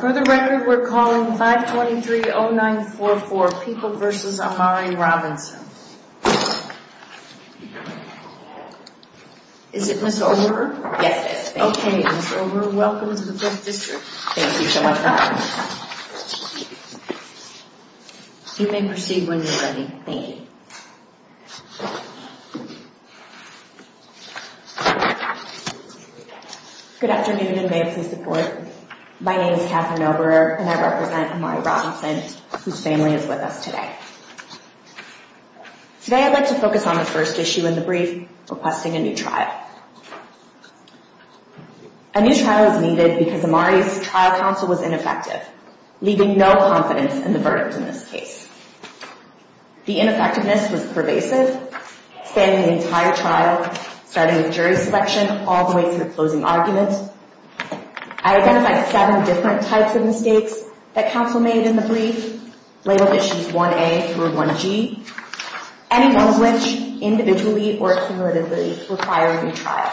For the record, we're calling 523-0944 People v. Amari Robinson. Is it Ms. Over? Yes, it is. Okay, Ms. Over, welcome to the 5th District. Thank you so much. You may proceed when you're ready. Thank you. Good afternoon, and may it please the Court. My name is Kathryn Oberer, and I represent Amari Robinson, whose family is with us today. Today I'd like to focus on the first issue in the brief, requesting a new trial. A new trial is needed because Amari's trial counsel was ineffective, leaving no confidence in the verdict in this case. The ineffectiveness was pervasive, spanning the entire trial, starting with jury selection all the way to the closing argument. I identified seven different types of mistakes that counsel made in the brief, labeled issues 1a through 1g, any of which individually or cumulatively require a new trial.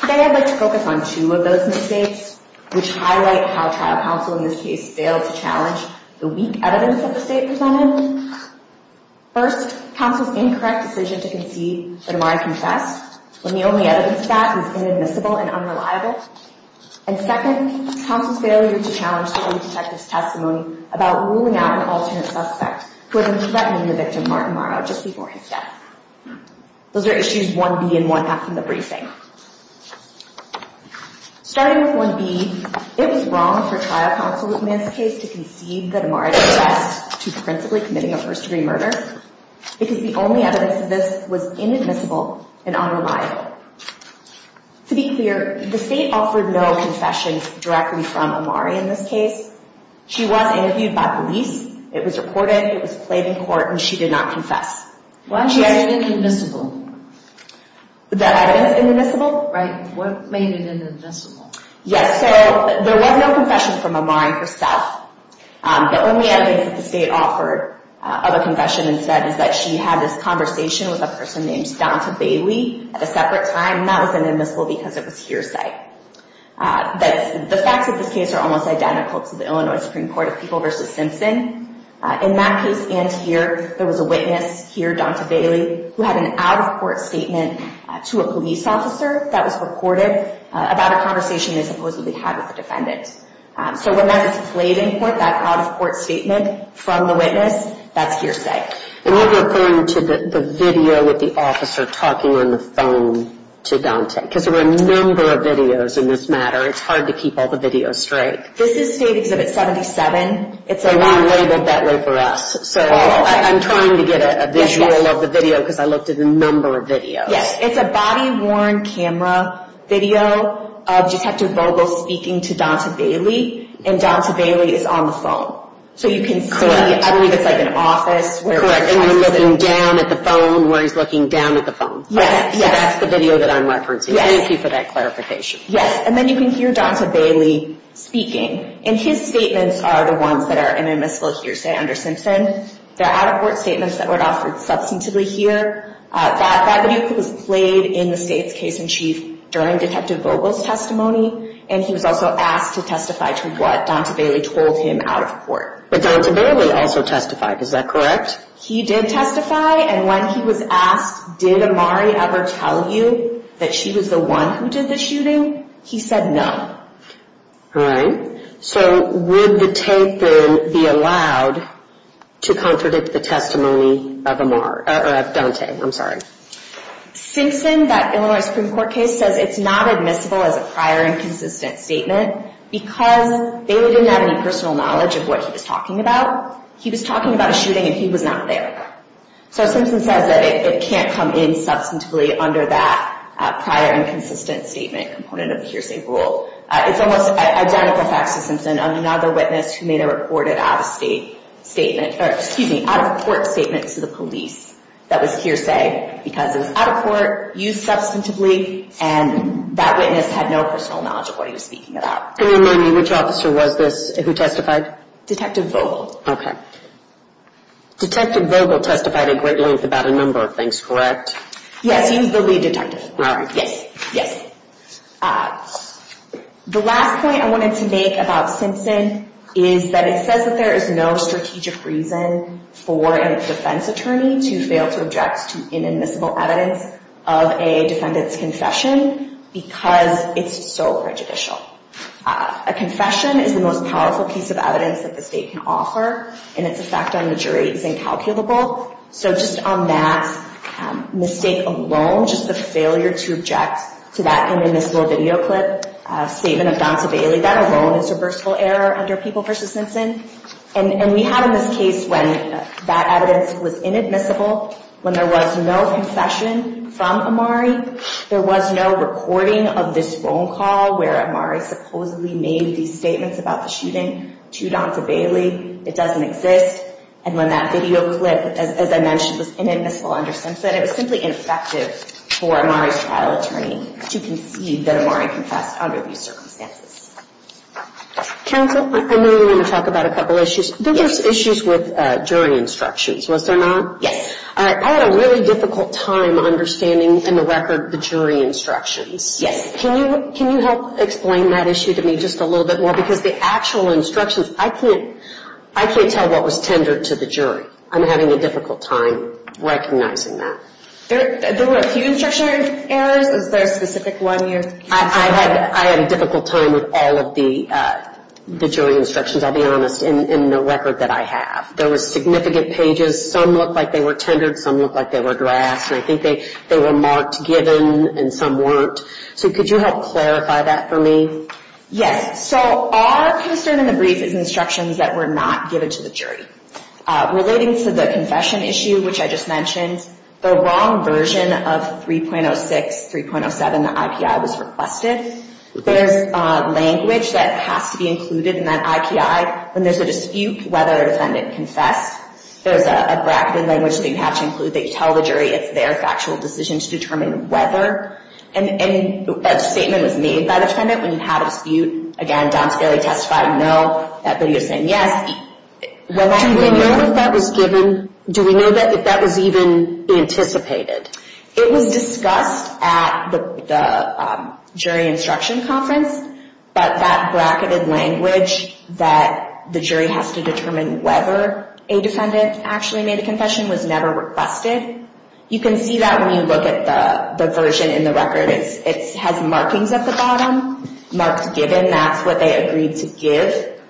Today I'd like to focus on two of those mistakes, which highlight how trial counsel in this case failed to challenge the weak evidence that the state presented. First, counsel's incorrect decision to concede that Amari confessed, when the only evidence of that is inadmissible and unreliable. And second, counsel's failure to challenge the early detective's testimony about ruling out an alternate suspect, who had been threatening the victim, Martin Morrow, just before his death. Those are issues 1b and 1f in the briefing. Starting with 1b, it was wrong for trial counsel in this case to concede that Amari confessed to principally committing a first-degree murder, because the only evidence of this was inadmissible and unreliable. To be clear, the state offered no confessions directly from Amari in this case. She was interviewed by police, it was reported, it was played in court, and she did not confess. Why is it inadmissible? The evidence is inadmissible. Right. What made it inadmissible? Yes, so there was no confession from Amari herself. The only evidence that the state offered of a confession instead is that she had this conversation with a person named Donta Bailey at a separate time, and that was inadmissible because it was hearsay. The facts of this case are almost identical to the Illinois Supreme Court of People v. Simpson. In that case and here, there was a witness, here, Donta Bailey, who had an out-of-court statement to a police officer that was reported about a conversation they supposedly had with a defendant. So when that's played in court, that out-of-court statement from the witness, that's hearsay. And you're referring to the video with the officer talking on the phone to Donta, because there were a number of videos in this matter. It's hard to keep all the videos straight. This is State Exhibit 77. They weren't labeled that way for us, so I'm trying to get a visual of the video because I looked at a number of videos. Yes, it's a body-worn camera video of Detective Vogel speaking to Donta Bailey, and Donta Bailey is on the phone. So you can see, I believe it's like an office. Correct, and you're looking down at the phone where he's looking down at the phone. Yes, yes. So that's the video that I'm referencing. Yes. Thank you for that clarification. Yes, and then you can hear Donta Bailey speaking. And his statements are the ones that are inadmissible hearsay under Simpson. They're out-of-court statements that weren't offered substantively here. That video was played in the State's case-in-chief during Detective Vogel's testimony, and he was also asked to testify to what Donta Bailey told him out-of-court. But Donta Bailey also testified. Is that correct? He did testify, and when he was asked, did Amari ever tell you that she was the one who did the shooting? He said no. All right. So would the tape then be allowed to contradict the testimony of Amari or of Donta? I'm sorry. Simpson, that Illinois Supreme Court case, says it's not admissible as a prior inconsistent statement because Bailey didn't have any personal knowledge of what he was talking about. He was talking about a shooting, and he was not there. So Simpson says that it can't come in substantively under that prior inconsistent statement component of the hearsay rule. It's almost identical facts to Simpson, another witness who made a reported out-of-state statement or, excuse me, out-of-court statement to the police that was hearsay because it was out-of-court, used substantively, and that witness had no personal knowledge of what he was speaking about. Can you remind me which officer was this who testified? Detective Vogel. Okay. Detective Vogel testified at great length about a number of things, correct? Yes, he was the lead detective. All right. Yes, yes. The last point I wanted to make about Simpson is that it says that there is no strategic reason for a defense attorney to fail to object to inadmissible evidence of a defendant's confession because it's so prejudicial. A confession is the most powerful piece of evidence that the state can offer, and its effect on the jury is incalculable. So just on that mistake alone, just the failure to object to that inadmissible video clip statement of Donta Bailey, that alone is reversible error under People v. Simpson. And we have in this case when that evidence was inadmissible, when there was no confession from Amari, there was no recording of this phone call where Amari supposedly made these statements about the shooting to Donta Bailey. It doesn't exist. And when that video clip, as I mentioned, was inadmissible under Simpson, it was simply ineffective for Amari's trial attorney to concede that Amari confessed under these circumstances. Counsel, I know you want to talk about a couple issues. There were issues with jury instructions, was there not? Yes. I had a really difficult time understanding in the record the jury instructions. Yes. Can you help explain that issue to me just a little bit more? Because the actual instructions, I can't tell what was tendered to the jury. I'm having a difficult time recognizing that. There were a few instruction errors. Is there a specific one you can say? I had a difficult time with all of the jury instructions, I'll be honest, in the record that I have. There were significant pages. Some looked like they were tendered, some looked like they were addressed, and I think they were marked given and some weren't. So could you help clarify that for me? Yes. So our concern in the brief is instructions that were not given to the jury. Relating to the confession issue, which I just mentioned, the wrong version of 3.06, 3.07, the IPI was requested. There's language that has to be included in that IPI. When there's a dispute, whether a defendant confessed, there's a bracketed language that you have to include that you tell the jury it's their factual decision to determine whether. And that statement was made by the defendant. When you have a dispute, again, Don Scali testified no, that video's saying yes. Do we know if that was given? Do we know if that was even anticipated? It was discussed at the jury instruction conference, but that bracketed language that the jury has to determine whether a defendant actually made a confession was never requested. You can see that when you look at the version in the record. It has markings at the bottom, marked given. That's what they agreed to give.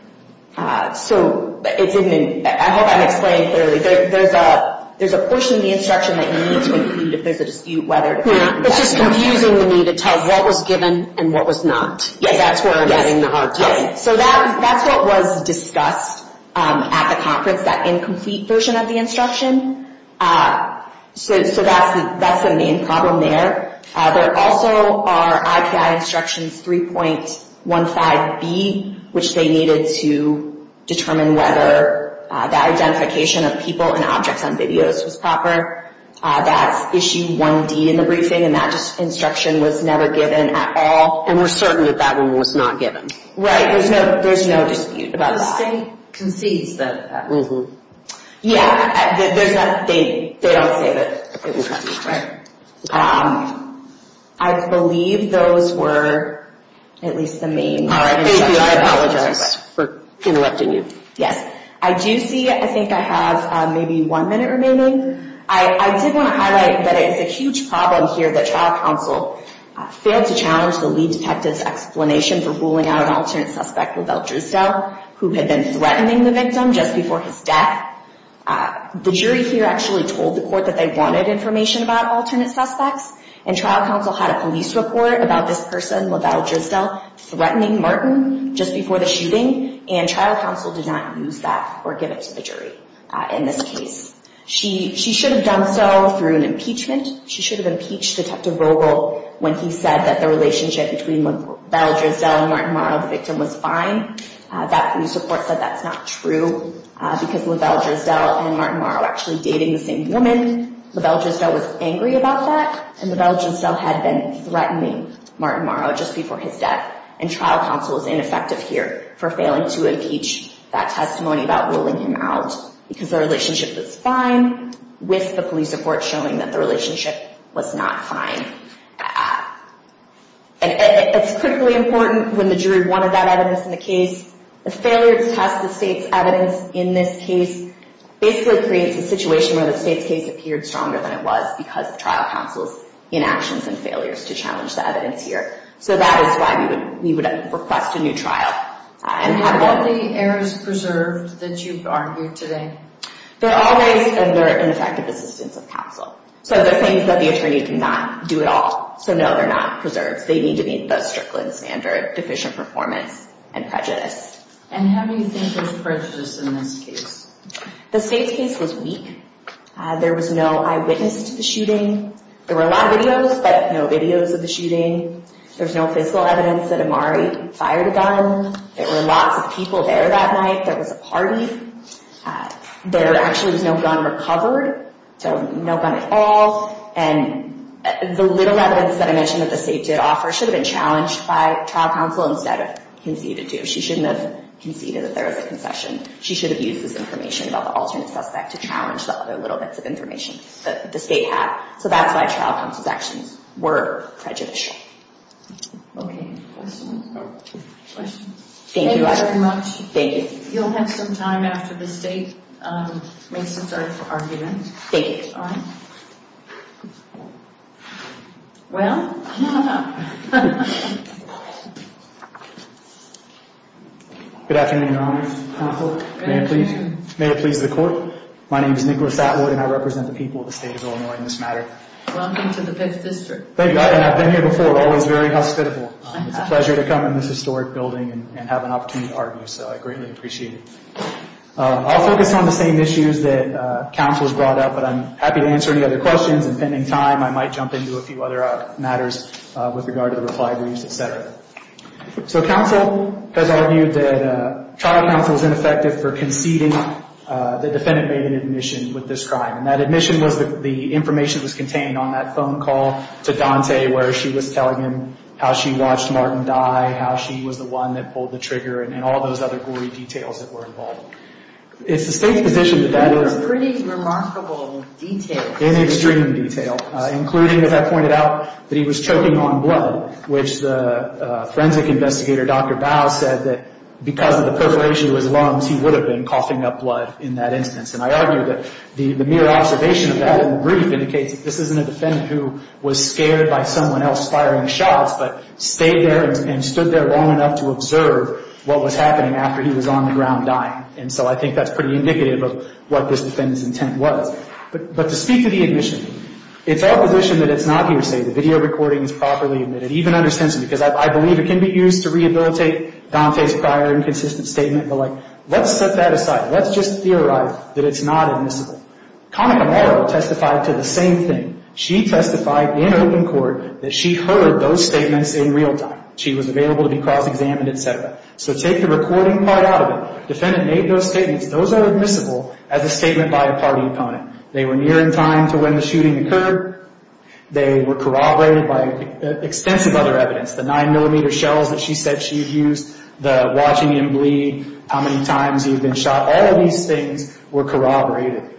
I hope I'm explaining clearly. There's a portion of the instruction that you need to include if there's a dispute whether a defendant confessed. It's just confusing to me to tell what was given and what was not. That's where I'm having a hard time. That's what was discussed at the conference, that incomplete version of the instruction. That's the main problem there. There also are IPI instructions 3.15B, which they needed to determine whether the identification of people and objects on videos was proper. That's issue 1D in the briefing, and that instruction was never given at all. And we're certain that that one was not given. Right, there's no dispute about that. The state concedes that. Yeah, they don't say that. I believe those were at least the main instructions. All right, thank you. I apologize for interrupting you. Yes. I do see I think I have maybe one minute remaining. I did want to highlight that it's a huge problem here that trial counsel failed to challenge the lead detective's explanation for ruling out an alternate suspect, LaBelle Drusdale, who had been threatening the victim just before his death. The jury here actually told the court that they wanted information about alternate suspects, and trial counsel had a police report about this person, LaBelle Drusdale, threatening Martin just before the shooting, and trial counsel did not use that or give it to the jury in this case. She should have done so through an impeachment. She should have impeached Detective Rogel when he said that the relationship between LaBelle Drusdale and Martin Morrow, the victim, was fine. That police report said that's not true because LaBelle Drusdale and Martin Morrow were actually dating the same woman. LaBelle Drusdale was angry about that, and LaBelle Drusdale had been threatening Martin Morrow just before his death, and trial counsel was ineffective here for failing to impeach that testimony about ruling him out because the relationship was fine with the police report showing that the relationship was not fine. It's critically important when the jury wanted that evidence in the case, the failure to test the state's evidence in this case basically creates a situation where the state's case appeared stronger than it was because of trial counsel's inactions and failures to challenge the evidence here. So that is why we would request a new trial. And have all the errors preserved that you've argued today? They're always under ineffective assistance of counsel. So they're things that the attorney cannot do at all. So no, they're not preserved. They need to meet the Strickland standard, deficient performance and prejudice. And how do you think there's prejudice in this case? The state's case was weak. There was no eyewitness to the shooting. There were a lot of videos, but no videos of the shooting. There was no physical evidence that Amari fired a gun. There were lots of people there that night. There was a party. There actually was no gun recovered. So no gun at all. And the little evidence that I mentioned that the state did offer should have been challenged by trial counsel instead of conceded to. She shouldn't have conceded that there was a concession. She should have used this information about the alternate suspect to challenge the other little bits of information that the state had. So that's why trial counsel's actions were prejudicial. Okay. Questions? Thank you all very much. Thank you. You'll have some time after the state makes its argument. Thank you. Well. Good afternoon, Your Honor. May it please the court. My name is Nicholas Atwood, and I represent the people of the state of Illinois in this matter. Welcome to the Fifth District. Thank you. I've been here before, always very hospitable. It's a pleasure to come in this historic building and have an opportunity to argue. So I greatly appreciate it. I'll focus on the same issues that counsel has brought up, but I'm happy to answer any other questions. And pending time, I might jump into a few other matters with regard to the reply briefs, et cetera. So counsel has argued that trial counsel is ineffective for conceding the defendant made an admission with this crime. And that admission was the information that was contained on that phone call to Dante where she was telling him how she watched Martin die, how she was the one that pulled the trigger, and all those other gory details that were involved. It's the state's position that that is. That's pretty remarkable detail. It's extreme detail, including, as I pointed out, that he was choking on blood, which the forensic investigator, Dr. Bow, said that because of the perforation of his lungs, he would have been coughing up blood in that instance. And I argue that the mere observation of that in the brief indicates that this isn't a defendant who was scared by someone else firing shots, but stayed there and stood there long enough to observe what was happening after he was on the ground dying. And so I think that's pretty indicative of what this defendant's intent was. But to speak to the admission, it's our position that it's not hearsay. The video recording is properly admitted, even under censorship, because I believe it can be used to rehabilitate Dante's prior inconsistent statement. But, like, let's set that aside. Let's just theorize that it's not admissible. Connie Camaro testified to the same thing. She testified in open court that she heard those statements in real time. She was available to be cross-examined, et cetera. So take the recording part out of it. Defendant made those statements. Those are admissible as a statement by a party opponent. They were near in time to when the shooting occurred. They were corroborated by extensive other evidence, the 9-millimeter shells that she said she had used, the watching him bleed, how many times he had been shot. All of these things were corroborated.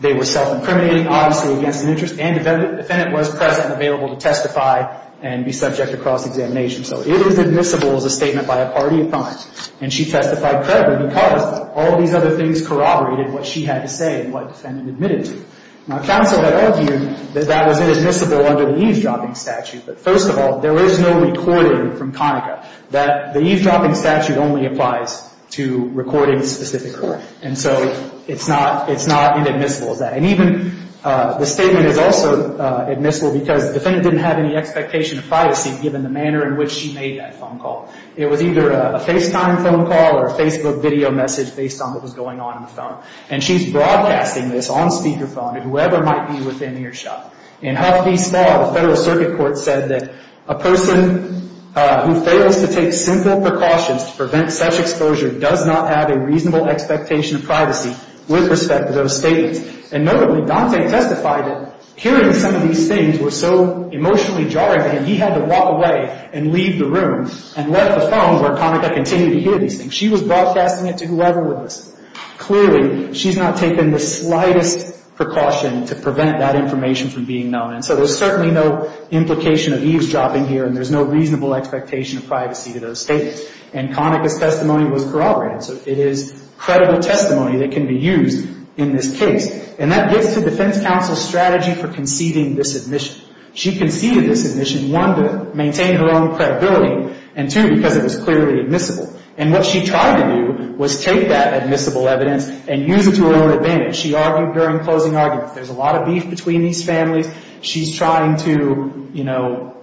They were self-incriminating, obviously, against an interest. And the defendant was present and available to testify and be subject to cross-examination. So it is admissible as a statement by a party opponent. And she testified credibly because all of these other things corroborated what she had to say and what the defendant admitted to. Now, counsel had argued that that was admissible under the eavesdropping statute. But first of all, there is no recording from Conica that the eavesdropping statute only applies to recordings specific to her. And so it's not as admissible as that. And even the statement is also admissible because the defendant didn't have any expectation of privacy given the manner in which she made that phone call. It was either a FaceTime phone call or a Facebook video message based on what was going on in the phone. And she's broadcasting this on speakerphone to whoever might be within earshot. In Huff v. Spa, the Federal Circuit Court said that a person who fails to take simple precautions to prevent such exposure does not have a reasonable expectation of privacy with respect to those statements. And notably, Dante testified that hearing some of these things was so emotionally jarring that he had to walk away and leave the room and left the phone where Conica continued to hear these things. She was broadcasting it to whoever was. Clearly, she's not taken the slightest precaution to prevent that information from being known. And so there's certainly no implication of eavesdropping here, and there's no reasonable expectation of privacy to those statements. And Conica's testimony was corroborated. So it is credible testimony that can be used in this case. And that gets to defense counsel's strategy for conceding this admission. She conceded this admission, one, to maintain her own credibility, and two, because it was clearly admissible. And what she tried to do was take that admissible evidence and use it to her own advantage. She argued during closing arguments. There's a lot of beef between these families. She's trying to, you know,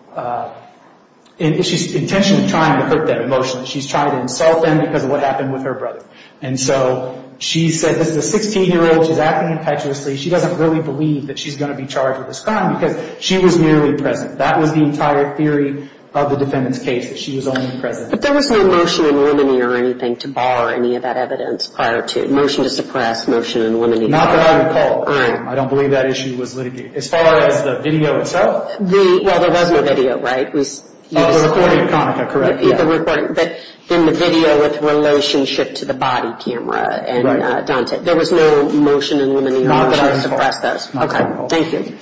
she's intentionally trying to put that emotion. She's trying to insult them because of what happened with her brother. And so she said, this is a 16-year-old. She's acting impetuously. She doesn't really believe that she's going to be charged with this crime because she was merely present. That was the entire theory of the defendant's case, that she was only present. But there was no motion in limine or anything to bar any of that evidence prior to it. Motion to suppress, motion in limine. Not that I recall. I don't believe that issue was litigated. As far as the video itself? Well, there was no video, right? Oh, the recording of Konica, correct. The recording, but then the video with relationship to the body camera and Dante. There was no motion in limine or motion to suppress those. Not that I recall. Okay, thank you.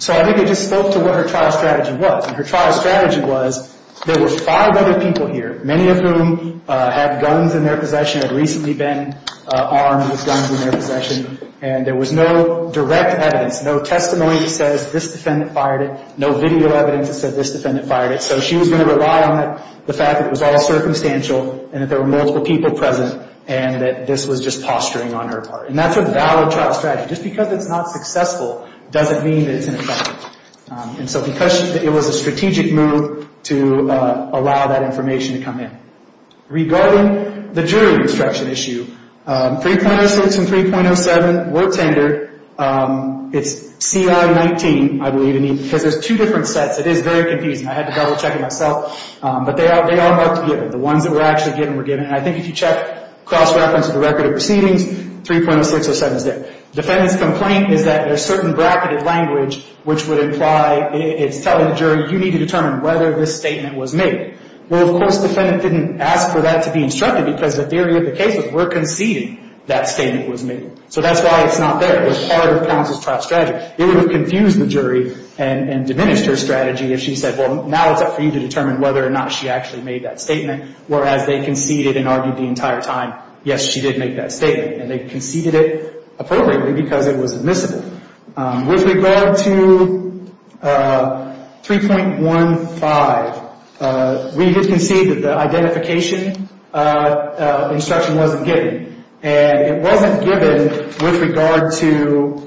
So I think I just spoke to what her trial strategy was. And her trial strategy was there were five other people here, many of whom had guns in their possession, had recently been armed with guns in their possession, and there was no direct evidence, no testimony that says this defendant fired it, no video evidence that said this defendant fired it. So she was going to rely on the fact that it was all circumstantial and that there were multiple people present and that this was just posturing on her part. And that's a valid trial strategy. Just because it's not successful doesn't mean that it's ineffective. And so because it was a strategic move to allow that information to come in. Regarding the jury instruction issue, 3.06 and 3.07 were tendered. It's CI-19, I believe, because there's two different sets. It is very confusing. I had to double-check it myself. But they are about to be given. The ones that were actually given were given. And I think if you check cross-reference of the record of proceedings, 3.0607 is there. Defendant's complaint is that there's certain bracketed language which would imply it's telling the jury, you need to determine whether this statement was made. Well, of course, defendant didn't ask for that to be instructed because the theory of the case was we're conceding that statement was made. So that's why it's not there. It was part of Pounce's trial strategy. It would have confused the jury and diminished her strategy if she said, well, now it's up for you to determine whether or not she actually made that statement. Whereas they conceded and argued the entire time, yes, she did make that statement. And they conceded it appropriately because it was admissible. With regard to 3.15, we did concede that the identification instruction wasn't given. And it wasn't given with regard to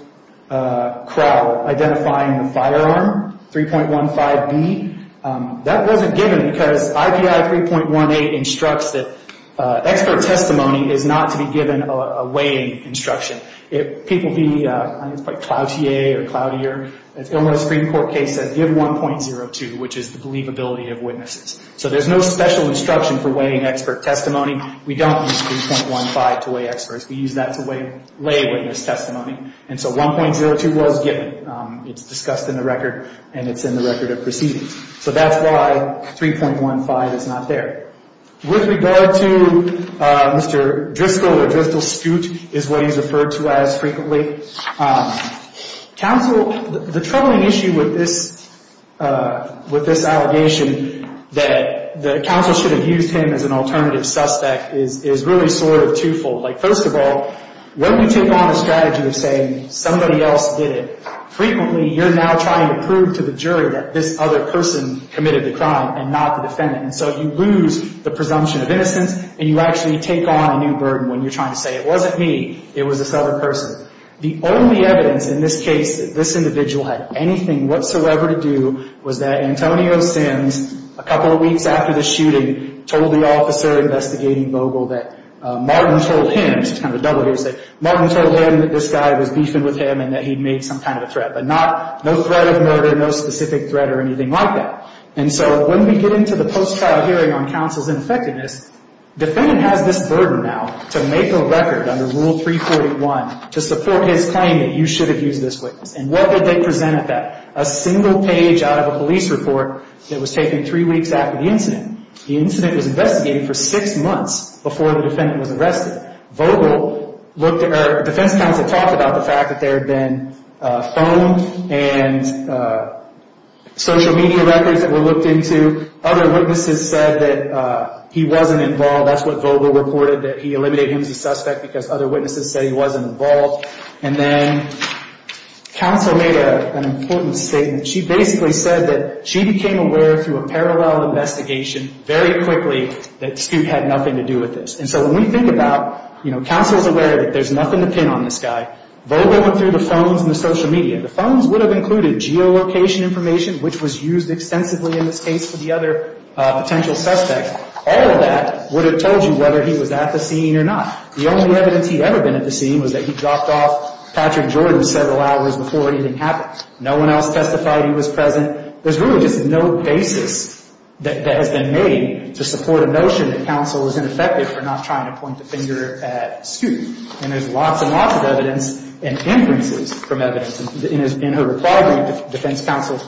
Crowell identifying the firearm, 3.15B. That wasn't given because IBI 3.18 instructs that expert testimony is not to be given a weighing instruction. If people be quite cloutier or cloutier, Illinois Supreme Court case says give 1.02, which is the believability of witnesses. So there's no special instruction for weighing expert testimony. We don't use 3.15 to weigh experts. We use that to weigh lay witness testimony. And so 1.02 was given. It's discussed in the record, and it's in the record of proceedings. So that's why 3.15 is not there. With regard to Mr. Driscoll or Driscoll's scoot is what he's referred to as frequently. Counsel, the troubling issue with this allegation that the counsel should have used him as an alternative suspect is really sort of twofold. Like, first of all, when you take on a strategy of saying somebody else did it, frequently you're now trying to prove to the jury that this other person committed the crime and not the defendant. And so you lose the presumption of innocence, and you actually take on a new burden when you're trying to say it wasn't me. It was this other person. The only evidence in this case that this individual had anything whatsoever to do was that Antonio Sims, a couple of weeks after the shooting, told the officer investigating Vogel that Martin told him, which is kind of a double here, he said Martin told him that this guy was beefing with him and that he'd made some kind of a threat. But no threat of murder, no specific threat or anything like that. And so when we get into the post-trial hearing on counsel's ineffectiveness, defendant has this burden now to make a record under Rule 341 to support his claim that you should have used this witness. And what did they present at that? A single page out of a police report that was taken three weeks after the incident. The incident was investigated for six months before the defendant was arrested. Defense counsel talked about the fact that there had been phone and social media records that were looked into. Other witnesses said that he wasn't involved. That's what Vogel reported, that he eliminated him as a suspect because other witnesses said he wasn't involved. And then counsel made an important statement. She basically said that she became aware through a parallel investigation very quickly that Scoot had nothing to do with this. And so when we think about, you know, counsel's aware that there's nothing to pin on this guy. Vogel went through the phones and the social media. The phones would have included geolocation information, which was used extensively in this case for the other potential suspects. All of that would have told you whether he was at the scene or not. The only evidence he'd ever been at the scene was that he dropped off Patrick Jordan several hours before anything happened. No one else testified he was present. There's really just no basis that has been made to support a notion that counsel is ineffective for not trying to point the finger at Scoot. And there's lots and lots of evidence and inferences from evidence. In her reply, defense counsel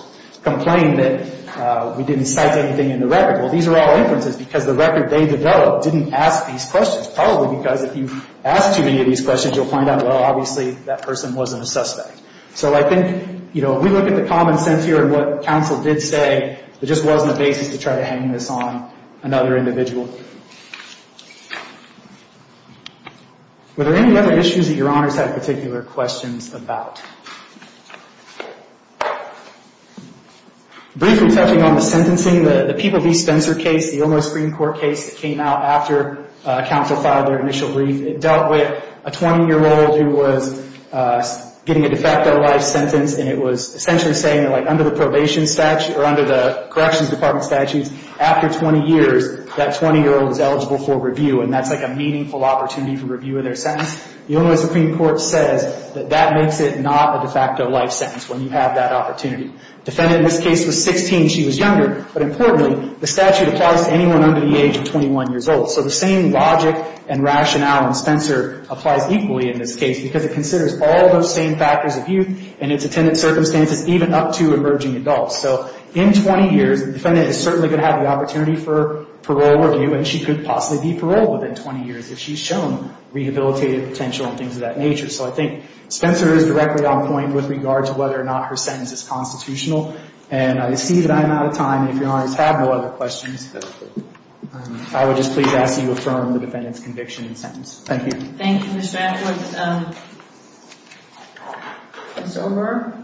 complained that we didn't cite anything in the record. Well, these are all inferences because the record they developed didn't ask these questions, probably because if you ask too many of these questions, you'll find out, well, obviously that person wasn't a suspect. So I think, you know, if we look at the common sense here and what counsel did say, there just wasn't a basis to try to hang this on another individual. Were there any other issues that your honors had particular questions about? Briefly touching on the sentencing, the People v. Spencer case, the Illinois Supreme Court case that came out after counsel filed their initial brief, it dealt with a 20-year-old who was getting a de facto life sentence, and it was essentially saying that, like, under the probation statute or under the corrections department statutes, after 20 years, that 20-year-old is eligible for review, and that's like a meaningful opportunity for review of their sentence. The Illinois Supreme Court says that that makes it not a de facto life sentence when you have that opportunity. Defendant in this case was 16. She was younger. But importantly, the statute applies to anyone under the age of 21 years old. So the same logic and rationale in Spencer applies equally in this case because it considers all those same factors of youth and its attendant circumstances even up to emerging adults. So in 20 years, the defendant is certainly going to have the opportunity for parole review, and she could possibly be paroled within 20 years if she's shown rehabilitative potential and things of that nature. So I think Spencer is directly on point with regard to whether or not her sentence is constitutional. And I see that I'm out of time. And if you guys have no other questions, I would just please ask that you affirm the defendant's conviction and sentence. Thank you. Thank you, Mr. Atwood. Ms. O'Byrne?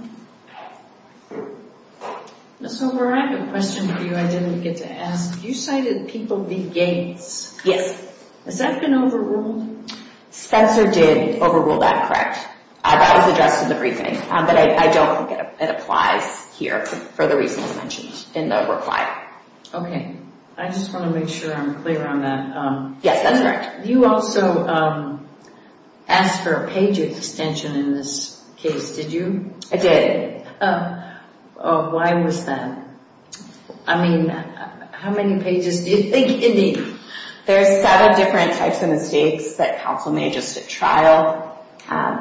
Ms. O'Byrne, I have a question for you I didn't get to ask. You cited people being gays. Yes. Has that been overruled? Spencer did overrule that, correct. That was addressed in the briefing, but I don't think it applies here for the reasons mentioned in the reply. Okay. I just want to make sure I'm clear on that. Yes, that's correct. You also asked for a page extension in this case, did you? I did. Why was that? I mean, how many pages do you think you need? There's seven different types of mistakes that counsel made just at trial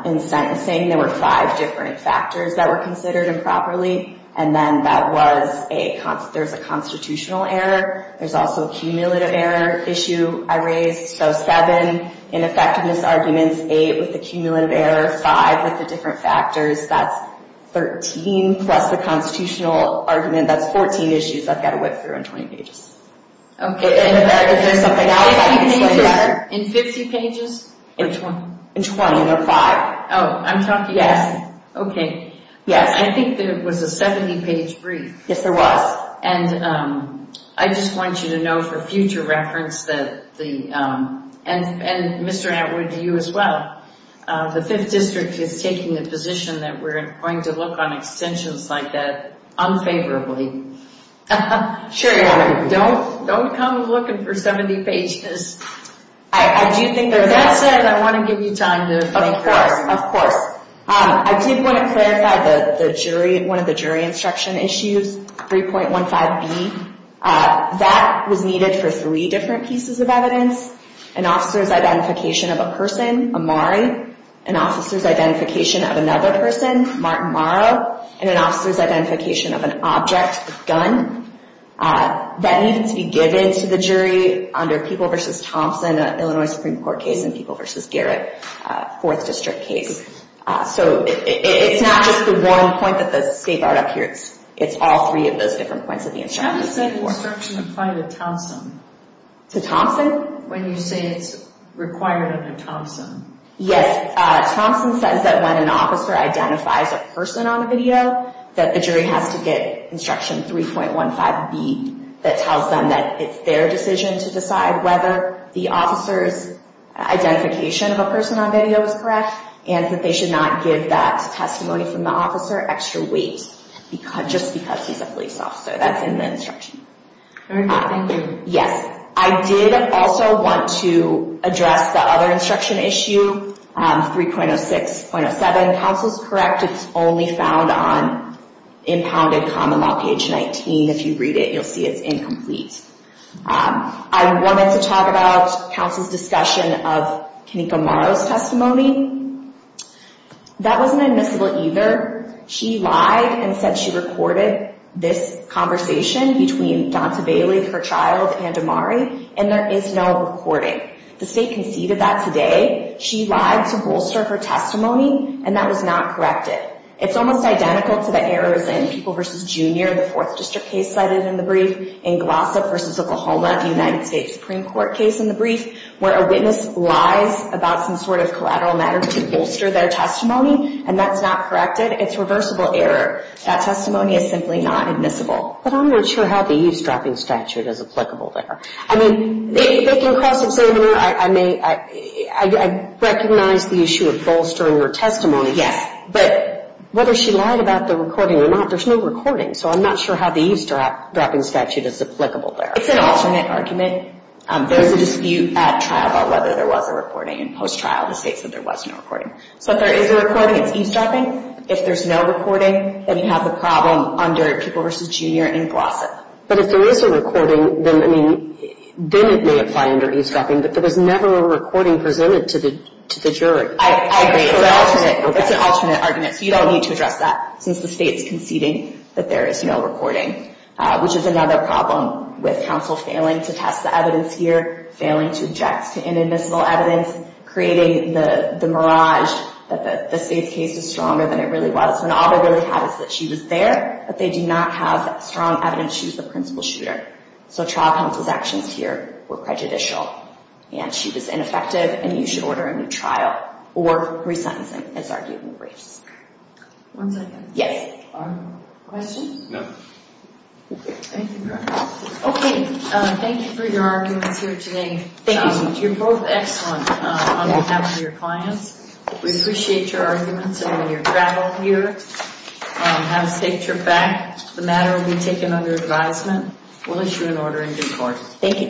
in sentencing. There were five different factors that were considered improperly. And then there's a constitutional error. There's also a cumulative error issue I raised. So seven in effectiveness arguments, eight with the cumulative error, five with the different factors. That's 13 plus the constitutional argument. That's 14 issues I've got to whip through in 20 pages. Okay. Is there something else? In 50 pages? In 20, there are five. Oh, I'm talking? Yes. Okay. Yes. I think there was a 70-page brief. Yes, there was. And I just want you to know for future reference that the – and Mr. Atwood, you as well, the Fifth District is taking a position that we're going to look on extensions like that unfavorably. Sure you are. Don't come looking for 70 pages. I do think – With that said, I want to give you time to – Of course. Of course. I did want to clarify the jury – one of the jury instruction issues, 3.15B. That was needed for three different pieces of evidence, an officer's identification of a person, Amari, an officer's identification of another person, Martin Morrow, and an officer's identification of an object, a gun. That needed to be given to the jury under People v. Thompson, an Illinois Supreme Court case, and People v. Garrett, a Fourth District case. So it's not just the one point that the state brought up here. It's all three of those different points of the instruction. How does that instruction apply to Thompson? To Thompson? When you say it's required under Thompson. Yes. Thompson says that when an officer identifies a person on the video, that the jury has to get instruction 3.15B that tells them that it's their decision to decide whether the officer's identification of a person on video is correct and that they should not give that testimony from the officer extra weight just because he's a police officer. That's in the instruction. Very good. Thank you. Yes, I did also want to address the other instruction issue, 3.06.07. Counsel's correct. It's only found on impounded common law, page 19. If you read it, you'll see it's incomplete. I wanted to talk about counsel's discussion of Kenneka Morrow's testimony. That wasn't admissible either. She lied and said she recorded this conversation between Donta Bailey, her child, and Amari, and there is no recording. The state conceded that today. She lied to bolster her testimony, and that was not corrected. It's almost identical to the errors in People v. Junior, the Fourth District case cited in the brief, in Glossa v. Oklahoma, the United States Supreme Court case in the brief, where a witness lies about some sort of collateral matter to bolster their testimony, and that's not corrected. It's reversible error. That testimony is simply not admissible. But I'm not sure how the eavesdropping statute is applicable there. I mean, they can cross-examine her. I recognize the issue of bolstering her testimony. Yes. But whether she lied about the recording or not, there's no recording, so I'm not sure how the eavesdropping statute is applicable there. It's an alternate argument. There is a dispute at trial about whether there was a recording, and post-trial the state said there was no recording. So if there is a recording, it's eavesdropping. If there's no recording, then you have the problem under People v. Junior in Glossa. But if there is a recording, then it may apply under eavesdropping, but there was never a recording presented to the jury. I agree. It's an alternate argument, so you don't need to address that, since the state's conceding that there is no recording, which is another problem with counsel failing to test the evidence here, failing to object to inadmissible evidence, creating the mirage that the state's case is stronger than it really was, when all they really have is that she was there, but they do not have that strong evidence she was the principal shooter. So trial counsel's actions here were prejudicial, and she was ineffective, and you should order a new trial, or re-sentencing, as argued in the briefs. One second. Yes. Question? No. Thank you very much. Okay. Thank you for your arguments here today. Thank you. You're both excellent on behalf of your clients. We appreciate your arguments and your travel here. Have a safe trip back. If the matter will be taken under advisement, we'll issue an order in due course. Thank you.